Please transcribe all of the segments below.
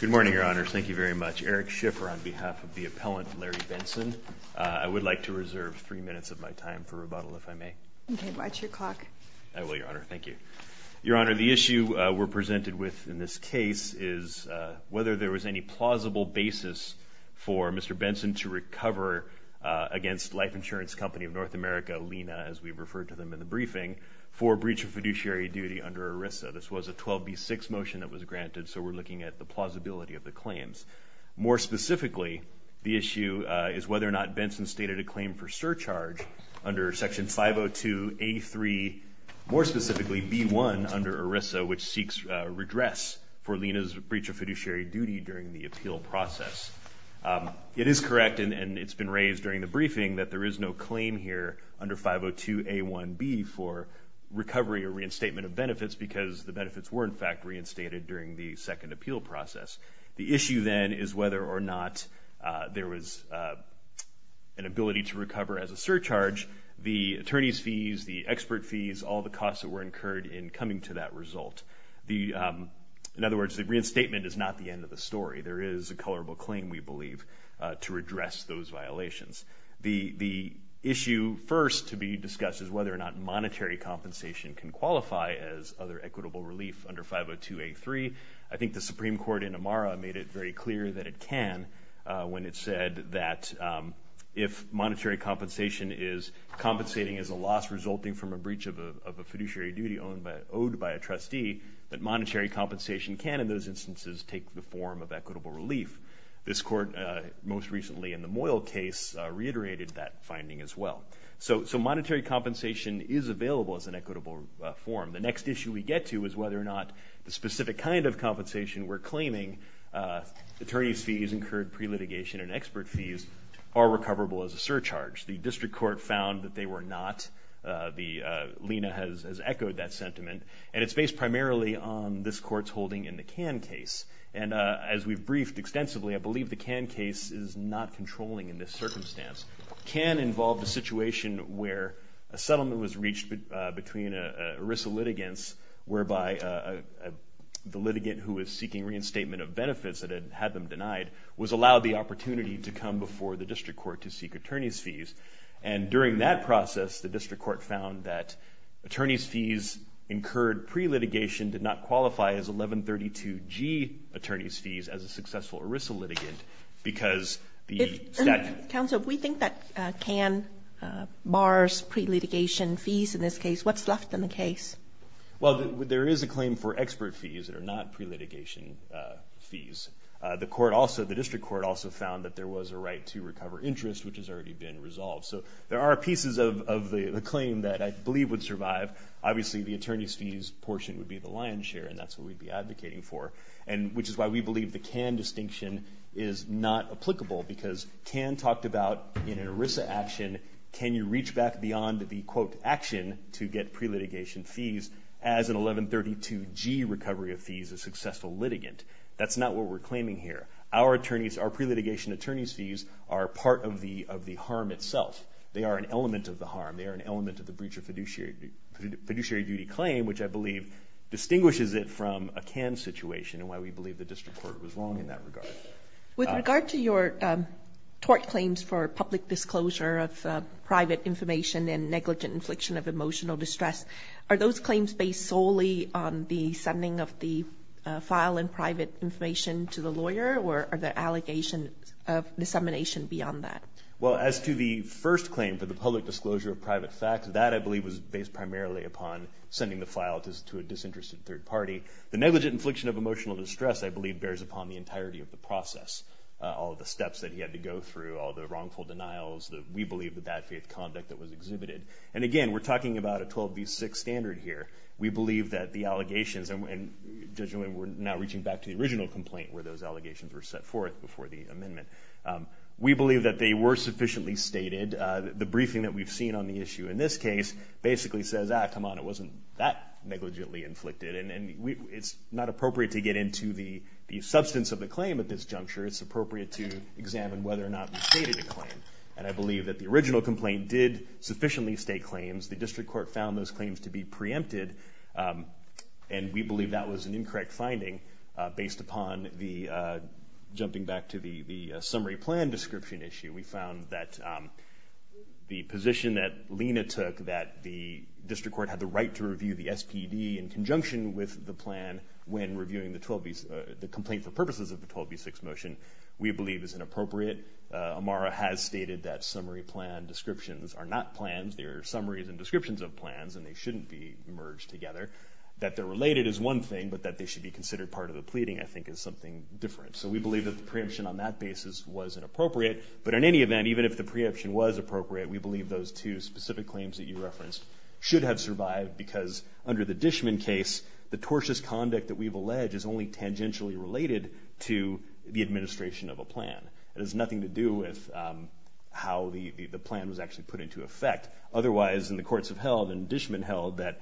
Good morning, Your Honors. Thank you very much. Eric Schiffer on behalf of the appellant, Larry Benson. I would like to reserve three minutes of my time for rebuttal, if I may. Okay, watch your clock. I will, Your Honor. Thank you. Your Honor, the issue we're presented with in this case is whether there was any plausible basis for Mr. Benson to recover against Life Insurance Company of North America, LENA, as we referred to them in the briefing, for breach of fiduciary duty under ERISA. This was a 12B6 motion that was granted, so we're looking at the plausibility of the claims. More specifically, the issue is whether or not Benson stated a claim for surcharge under Section 502A3, more specifically, B1 under ERISA, which seeks redress for LENA's breach of fiduciary duty during the appeal process. It is correct, and it's been raised during the briefing, that there is no reason in Section 51B for recovery or reinstatement of benefits because the benefits were, in fact, reinstated during the second appeal process. The issue, then, is whether or not there was an ability to recover as a surcharge, the attorney's fees, the expert fees, all the costs that were incurred in coming to that result. In other words, the reinstatement is not the end of the story. There is a colorable claim, we believe, to redress those violations. The issue first to be addressed is whether or not monetary compensation can qualify as other equitable relief under 502A3. I think the Supreme Court in Amara made it very clear that it can when it said that if monetary compensation is compensating as a loss resulting from a breach of a fiduciary duty owed by a trustee, that monetary compensation can, in those instances, take the form of equitable relief. This court, most recently in the Moyle case, reiterated that finding as well. So monetary compensation is available as an equitable form. The next issue we get to is whether or not the specific kind of compensation we're claiming, attorney's fees, incurred pre-litigation and expert fees, are recoverable as a surcharge. The district court found that they were not. Lina has echoed that sentiment. And it's based primarily on this court's holding in the Cann case. And as we've briefed extensively, I believe the Cann case is not controlling in this circumstance. Cann involved a situation where a settlement was reached between ERISA litigants whereby the litigant who was seeking reinstatement of benefits that had had them denied was allowed the opportunity to come before the district court to seek attorney's fees. And during that process, the district court found that attorney's fees incurred pre- litigation did not qualify as 1132G attorney's fees as a successful ERISA litigant. Because the statute... Council, if we think that Cann bars pre-litigation fees in this case, what's left in the case? Well, there is a claim for expert fees that are not pre-litigation fees. The court also, the district court also found that there was a right to recover interest, which has already been resolved. So there are pieces of the claim that I believe would survive. Obviously, the attorney's fees portion would be the lion's share. And that's what we'd be advocating for. And which is why we believe the distinction is not applicable. Because Cann talked about in an ERISA action, can you reach back beyond the, quote, action to get pre-litigation fees as an 1132G recovery of fees, a successful litigant? That's not what we're claiming here. Our attorneys, our pre-litigation attorney's fees are part of the harm itself. They are an element of the harm. They are an element of the breach of fiduciary duty claim, which I believe distinguishes it from a Cann situation and why we believe the district court was wrong in that regard. With regard to your tort claims for public disclosure of private information and negligent infliction of emotional distress, are those claims based solely on the sending of the file and private information to the lawyer or are there allegations of dissemination beyond that? Well, as to the first claim for the public disclosure of private facts, that I believe was based primarily upon sending the file to a disinterested third party. The negligent infliction of emotional distress I believe bears upon the entirety of the process, all of the steps that he had to go through, all the wrongful denials that we believe the bad faith conduct that was exhibited. And again, we're talking about a 12B6 standard here. We believe that the allegations, and Judge Newman, we're now reaching back to the original complaint where those allegations were set forth before the amendment. We believe that they were sufficiently stated. The briefing that we've seen on the issue in this case basically says, ah, come on, it wasn't that negligently inflicted. And it's not appropriate to get into the substance of the claim at this juncture. It's appropriate to examine whether or not we stated a claim. And I believe that the original complaint did sufficiently state claims. The district court found those claims to be preempted and we believe that was an incorrect finding based upon the, jumping back to the summary plan description issue, we found that the position that Lena took, that the district court had the right to review the SPD in conjunction with the plan when reviewing the 12B, the complaint for purposes of the 12B6 motion, we believe is inappropriate. Amara has stated that summary plan descriptions are not plans. They are summaries and descriptions of plans and they shouldn't be merged together. That they're related is one thing, but that they should be considered part of the pleading, I think, is something different. So we believe that the preemption on that basis was inappropriate. But in any event, even if the preemption was appropriate, we believe those two specific claims that you referenced should have survived because under the Dishman case, the preemption is related to the administration of a plan. It has nothing to do with how the plan was actually put into effect. Otherwise, in the courts have held and Dishman held that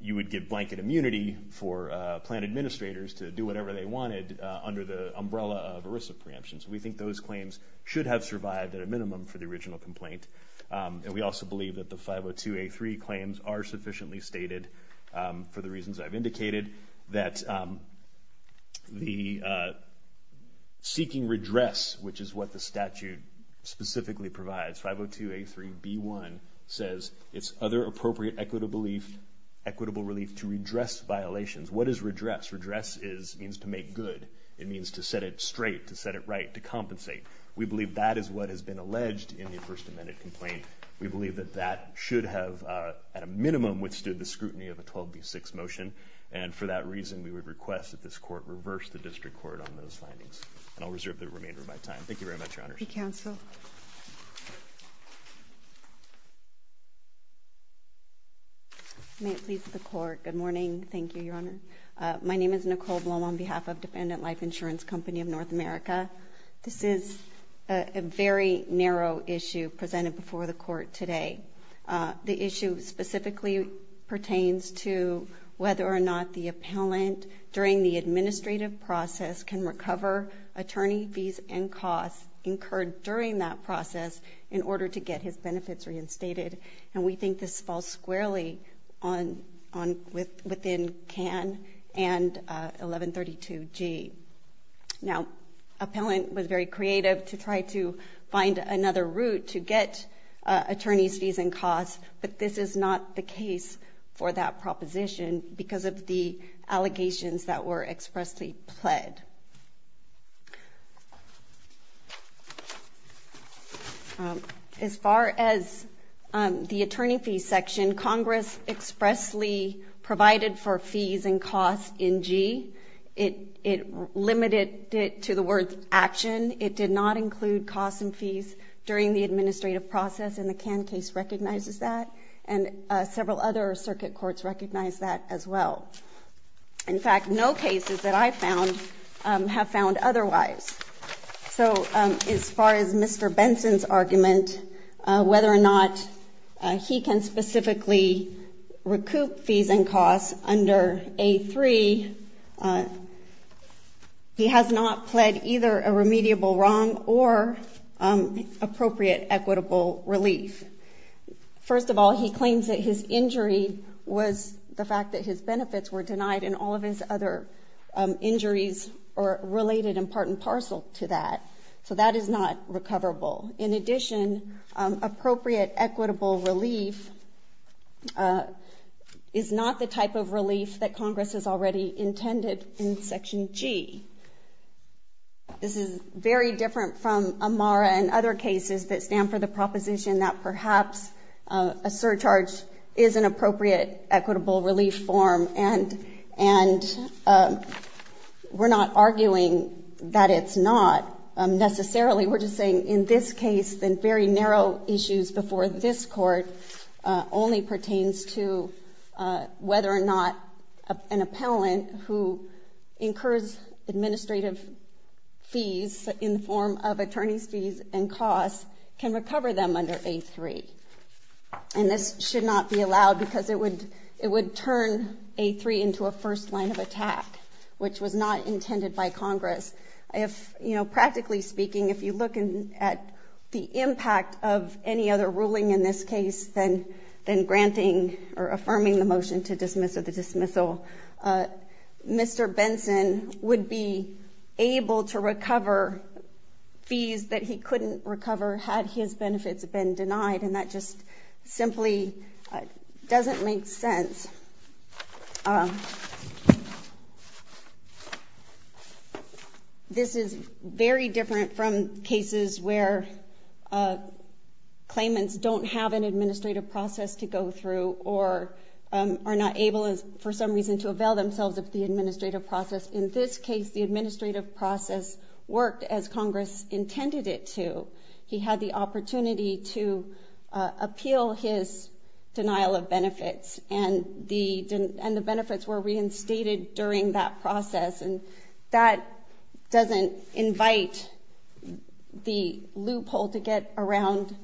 you would give blanket immunity for plan administrators to do whatever they wanted under the umbrella of ERISA preemptions. We think those claims should have survived at a minimum for the original complaint. And we also believe that the 502A3 claims are seeking redress, which is what the statute specifically provides. 502A3B1 says it's other appropriate equitable relief to redress violations. What is redress? Redress means to make good. It means to set it straight, to set it right, to compensate. We believe that is what has been alleged in the First Amendment complaint. We believe that that should have, at a minimum, withstood the scrutiny of a 12b6 motion. And for that reason, we would request that this court reverse the district court on those findings. And I'll reserve the remainder of my time. Thank you very much, Your Honor. May it please the court. Good morning. Thank you, Your Honor. My name is Nicole Bloom on behalf of Dependent Life Insurance Company of North America. This is a very narrow issue presented before the court today. The issue specifically pertains to whether or not the appellant, during the administrative process, can recover attorney fees and costs incurred during that process in order to get his benefits reinstated. And we think this falls squarely within CAN and 1132G. Now, appellant was very creative to try to find another route to get attorney's fees and costs, but this is not the case for that proposition because of the allegations that were expressly pled. As far as the attorney fee section, Congress expressly provided for fees and costs in G. It limited it to the word action. It did not include costs and fees during the administrative process, and the CAN case recognizes that, and several other circuit courts recognize that as well. In fact, no cases that I found have found otherwise. So as far as Mr. Benson's argument, whether or not he can specifically recoup fees and costs under A3, he has not pled either a remediable wrong or appropriate equitable relief. First of all, he claims that his injury was the fact that his benefits were denied and all of his other injuries were related in part and parcel to that. So that is not recoverable. In addition, appropriate equitable relief is not the type of relief that Congress has already intended in Section G. This is very different from AMARA and other cases that stand for the proposition that perhaps a surcharge is an appropriate equitable relief form, and we're not arguing that it's not necessarily. We're just saying in this case that the issue before this court only pertains to whether or not an appellant who incurs administrative fees in the form of attorney's fees and costs can recover them under A3. And this should not be allowed because it would turn A3 into a first line of attack, which was not intended by any other ruling in this case than granting or affirming the motion to dismiss or the dismissal. Mr. Benson would be able to recover fees that he couldn't recover had his benefits been denied, and that just simply doesn't make sense. This is very different from cases where claimants don't have an administrative process to go through or are not able, for some reason, to avail themselves of the administrative process. In this case, the administrative process worked as Congress intended it to. He had the benefits were reinstated during that process, and that doesn't invite the loophole to get around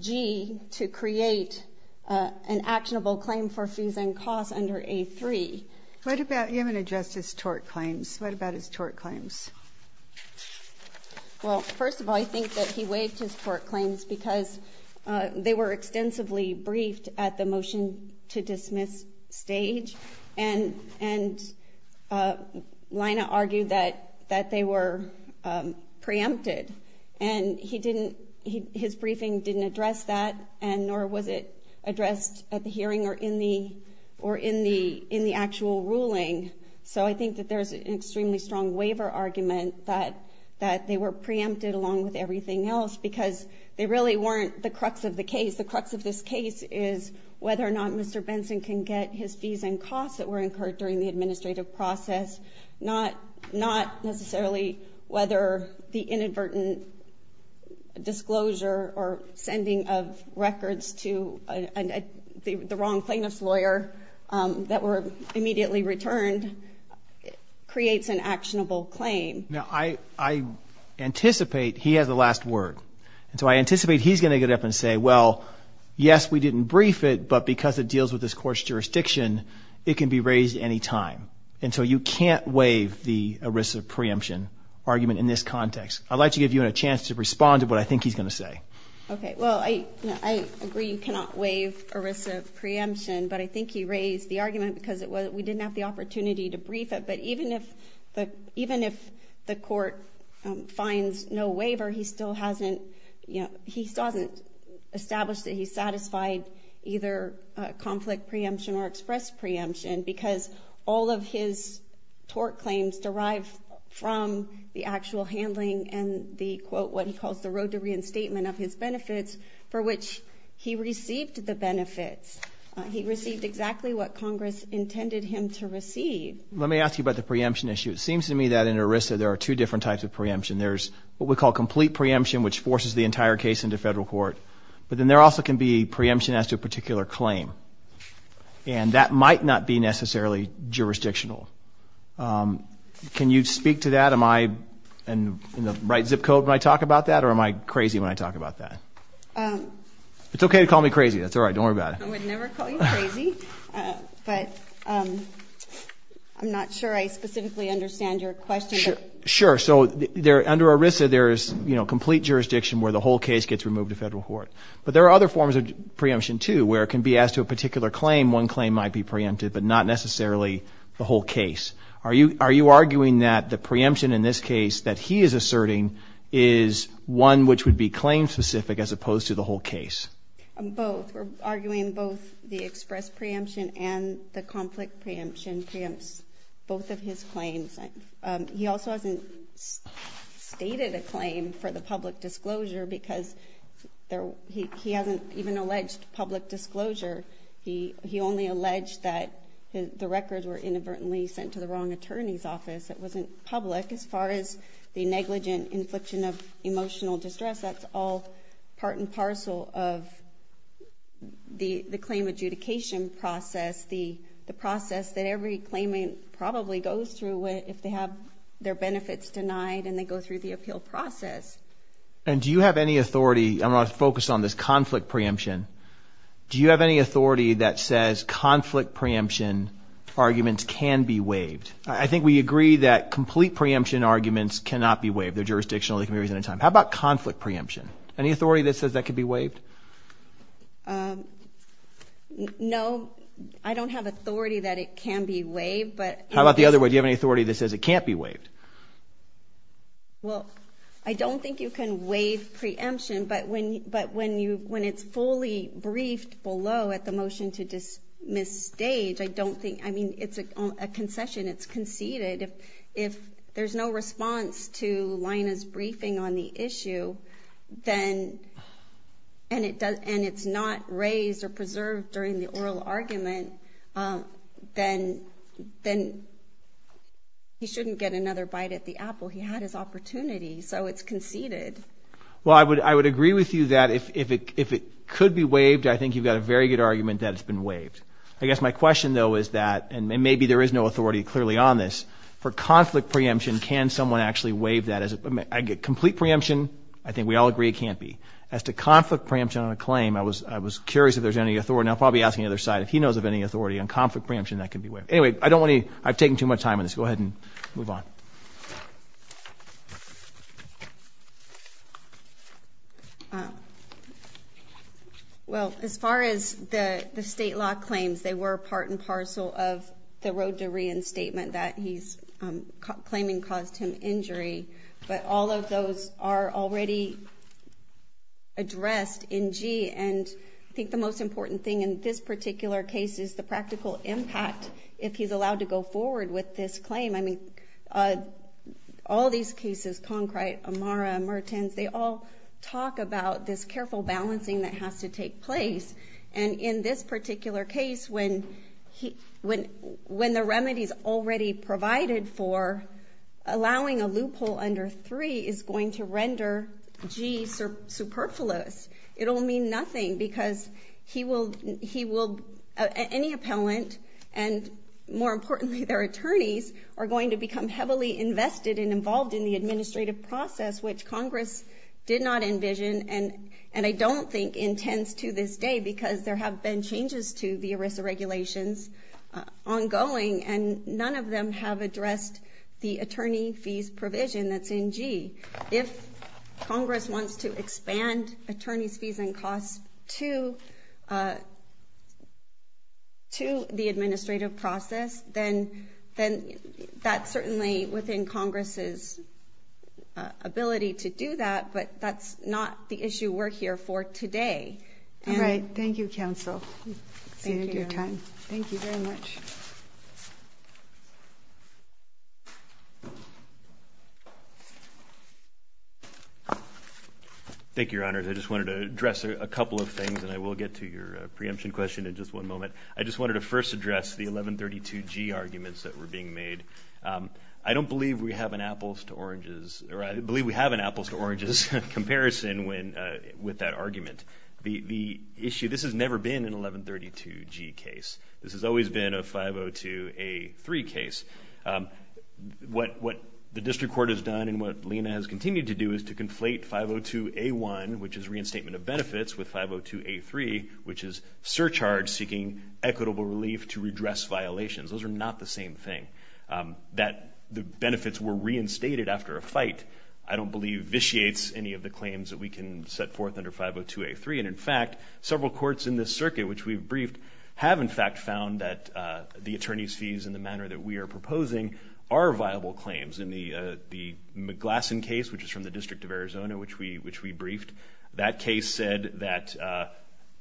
G to create an actionable claim for fees and costs under A3. What about imminent justice tort claims? What about his tort claims? Well, first of all, I think that he waived his tort claims because they were staged. And Lina argued that they were preempted. And his briefing didn't address that, nor was it addressed at the hearing or in the actual ruling. So I think that there's an extremely strong waiver argument that they were preempted along with everything else because they really weren't the crux of the case. The crux of this case is whether or not Mr. Benson can get his fees and costs that were incurred during the administrative process, not necessarily whether the inadvertent disclosure or sending of records to the wrong plaintiff's lawyer that were immediately returned creates an actionable claim. Now, I anticipate he has the last word. And so I anticipate he's going to get up and say, well, yes, we didn't brief it, but because it deals with this court's jurisdiction, it can be raised any time. And so you can't waive the ERISA preemption argument in this context. I'd like to give you a chance to respond to what I think he's going to say. Okay, well, I agree you cannot waive ERISA preemption, but I think he raised the argument because we didn't have the opportunity to brief it. But even if the established that he satisfied either conflict preemption or express preemption because all of his tort claims derived from the actual handling and the, quote, what he calls the road to reinstatement of his benefits for which he received the benefits. He received exactly what Congress intended him to receive. Let me ask you about the preemption issue. It seems to me that in ERISA, there are two different types of preemption. There's what we call complete preemption, which forces the entire case into federal court. But then there also can be preemption as to a particular claim. And that might not be necessarily jurisdictional. Can you speak to that? Am I in the right zip code when I talk about that? Or am I crazy when I talk about that? It's okay to call me crazy. That's all right. Don't worry about it. I would never call you crazy. But I'm not sure I specifically understand your question. Sure. So under ERISA, there's complete jurisdiction where the whole case gets removed to federal court. But there are other forms of preemption, too, where it can be as to a particular claim. One claim might be preempted, but not necessarily the whole case. Are you arguing that the preemption in this case that he is asserting is one which would be claim specific as opposed to the whole case? Both. We're arguing both the express preemption and the conflict preemption preempts both of his claims. He also hasn't stated a claim for the public disclosure because he hasn't even alleged public disclosure. He only alleged that the records were inadvertently sent to the wrong attorney's office. It wasn't public. As far as the negligent infliction of emotional distress, that's all part and parcel of the claim adjudication process, the process that every claimant probably goes through if they have their benefits denied and they go through the appeal process. And do you have any authority, I'm going to focus on this conflict preemption, do you have any authority that says conflict preemption arguments can be waived? I think we agree that complete preemption arguments cannot be waived. They're jurisdictional. They can be waived at any time. How about conflict preemption? Any authority that says that could be waived? No, I don't have authority that it can be waived. How about the other way? Do you have any authority that says it can't be waived? Well, I don't think you can waive preemption, but when it's fully briefed below at the motion to dismiss stage, I don't think, I mean, it's a concession, it's conceded. If there's no response to Lina's briefing on the issue, and it's not raised or preserved during the oral argument, then he shouldn't get another bite at the apple. He had his opportunity, so it's conceded. Well, I would agree with you that if it could be waived, I think you've got a very good argument that it's been waived. I guess my question though is that, and maybe there is no doubt on this, for conflict preemption, can someone actually waive that as a complete preemption? I think we all agree it can't be. As to conflict preemption on a claim, I was curious if there's any authority, and I'll probably ask the other side if he knows of any authority on conflict preemption that could be waived. Anyway, I don't want to, I've taken too much time on this. Go ahead and move on. Well, as far as the state law claims, they were part and parcel of the road to the statement that he's claiming caused him injury, but all of those are already addressed in Gee, and I think the most important thing in this particular case is the practical impact if he's allowed to go forward with this claim. I mean, all these cases, Concrete, Amara, Mertens, they all talk about this careful balancing that has to take place, and in this particular case, when the remedies already provided for allowing a loophole under 3 is going to render Gee superfluous, it'll mean nothing because he will, any appellant, and more importantly, their attorneys are going to become heavily invested and involved in the administrative process, which Congress did not envision, and I don't think intends to this day, because there have been changes to the ERISA regulations ongoing, and none of them have addressed the attorney fees provision that's in Gee. If Congress wants to expand attorney's fees and costs to the administrative process, then that's certainly within Congress's ability to do that, but that's not the issue we're here for today. All right. Thank you, Counsel. Thank you very much. Thank you, Your Honors. I just wanted to address a couple of things, and I will get to your preemption question in just one moment. I just wanted to first address the 1132G arguments that were being made. I don't believe we have an apples-to-oranges, or I believe we have an apples-to-oranges comparison with that argument. The issue, this has never been an 1132G case. This has always been a 502A3 case. What the District Court has done, and what Lena has continued to do, is to conflate 502A1, which is reinstatement of benefits, with 502A3, which is surcharge seeking equitable relief to redress violations. Those are not the same thing. That the benefits were reinstated after a fight, I believe we can set forth under 502A3, and in fact, several courts in this circuit, which we've briefed, have in fact found that the attorney's fees, in the manner that we are proposing, are viable claims. In the McGlasson case, which is from the District of Arizona, which we briefed, that case said that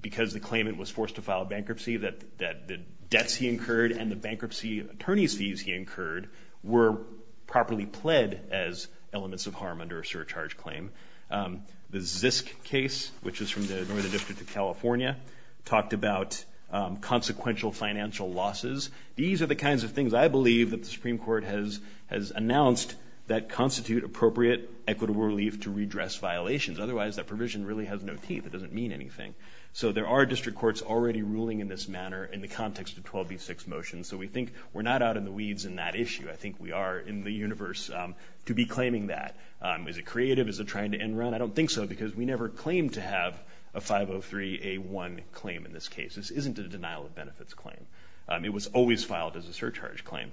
because the claimant was forced to file bankruptcy, that the debts he incurred and the bankruptcy attorney's fees he incurred were properly pled as a result of the bankruptcy. The Zisk case, which is from the Northern District of California, talked about consequential financial losses. These are the kinds of things, I believe, that the Supreme Court has announced that constitute appropriate equitable relief to redress violations. Otherwise, that provision really has no teeth. It doesn't mean anything. So there are district courts already ruling in this manner in the context of 12B6 motions. So we think we're not out in the weeds in that issue. I think we are in the universe to be because we never claimed to have a 503A1 claim in this case. This isn't a denial of benefits claim. It was always filed as a surcharge claim.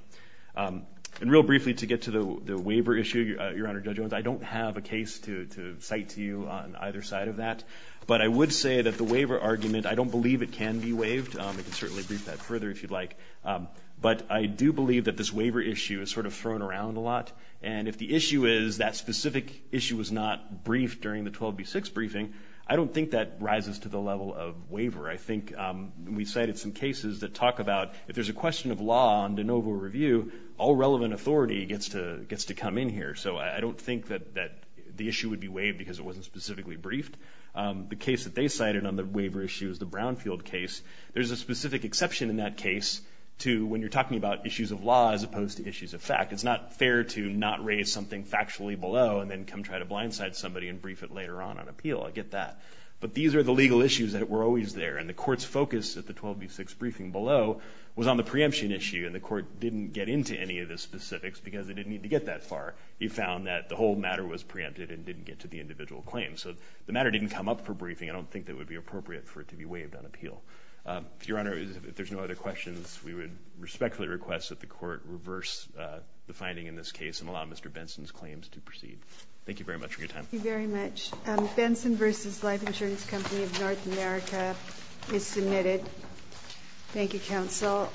And real briefly, to get to the waiver issue, Your Honor, Judge Owens, I don't have a case to cite to you on either side of that. But I would say that the waiver argument, I don't believe it can be waived. I can certainly brief that further if you'd like. But I do believe that this waiver issue is sort of thrown around a lot. And if the issue is that specific issue was not briefed during the 12B6 briefing, I don't think that rises to the level of waiver. I think we cited some cases that talk about if there's a question of law on de novo review, all relevant authority gets to come in here. So I don't think that the issue would be waived because it wasn't specifically briefed. The case that they cited on the waiver issue is the Brownfield case. There's a specific exception in that case to when you're talking about issues of law as opposed to issues of fact. It's not fair to not raise something factually below and then come try to blindside somebody and brief it later on on appeal. I get that. But these are the legal issues that were always there. And the court's focus at the 12B6 briefing below was on the preemption issue. And the court didn't get into any of the specifics because it didn't need to get that far. He found that the whole matter was preempted and didn't get to the individual claim. So the matter didn't come up for briefing. I don't think that would be appropriate for it to be waived on appeal. Your Honor, if there's no other questions, we would respectfully request that the Benson's claims to proceed. Thank you very much for your time. Thank you very much. Benson v. Life Insurance Company of North America is submitted. Thank you, counsel.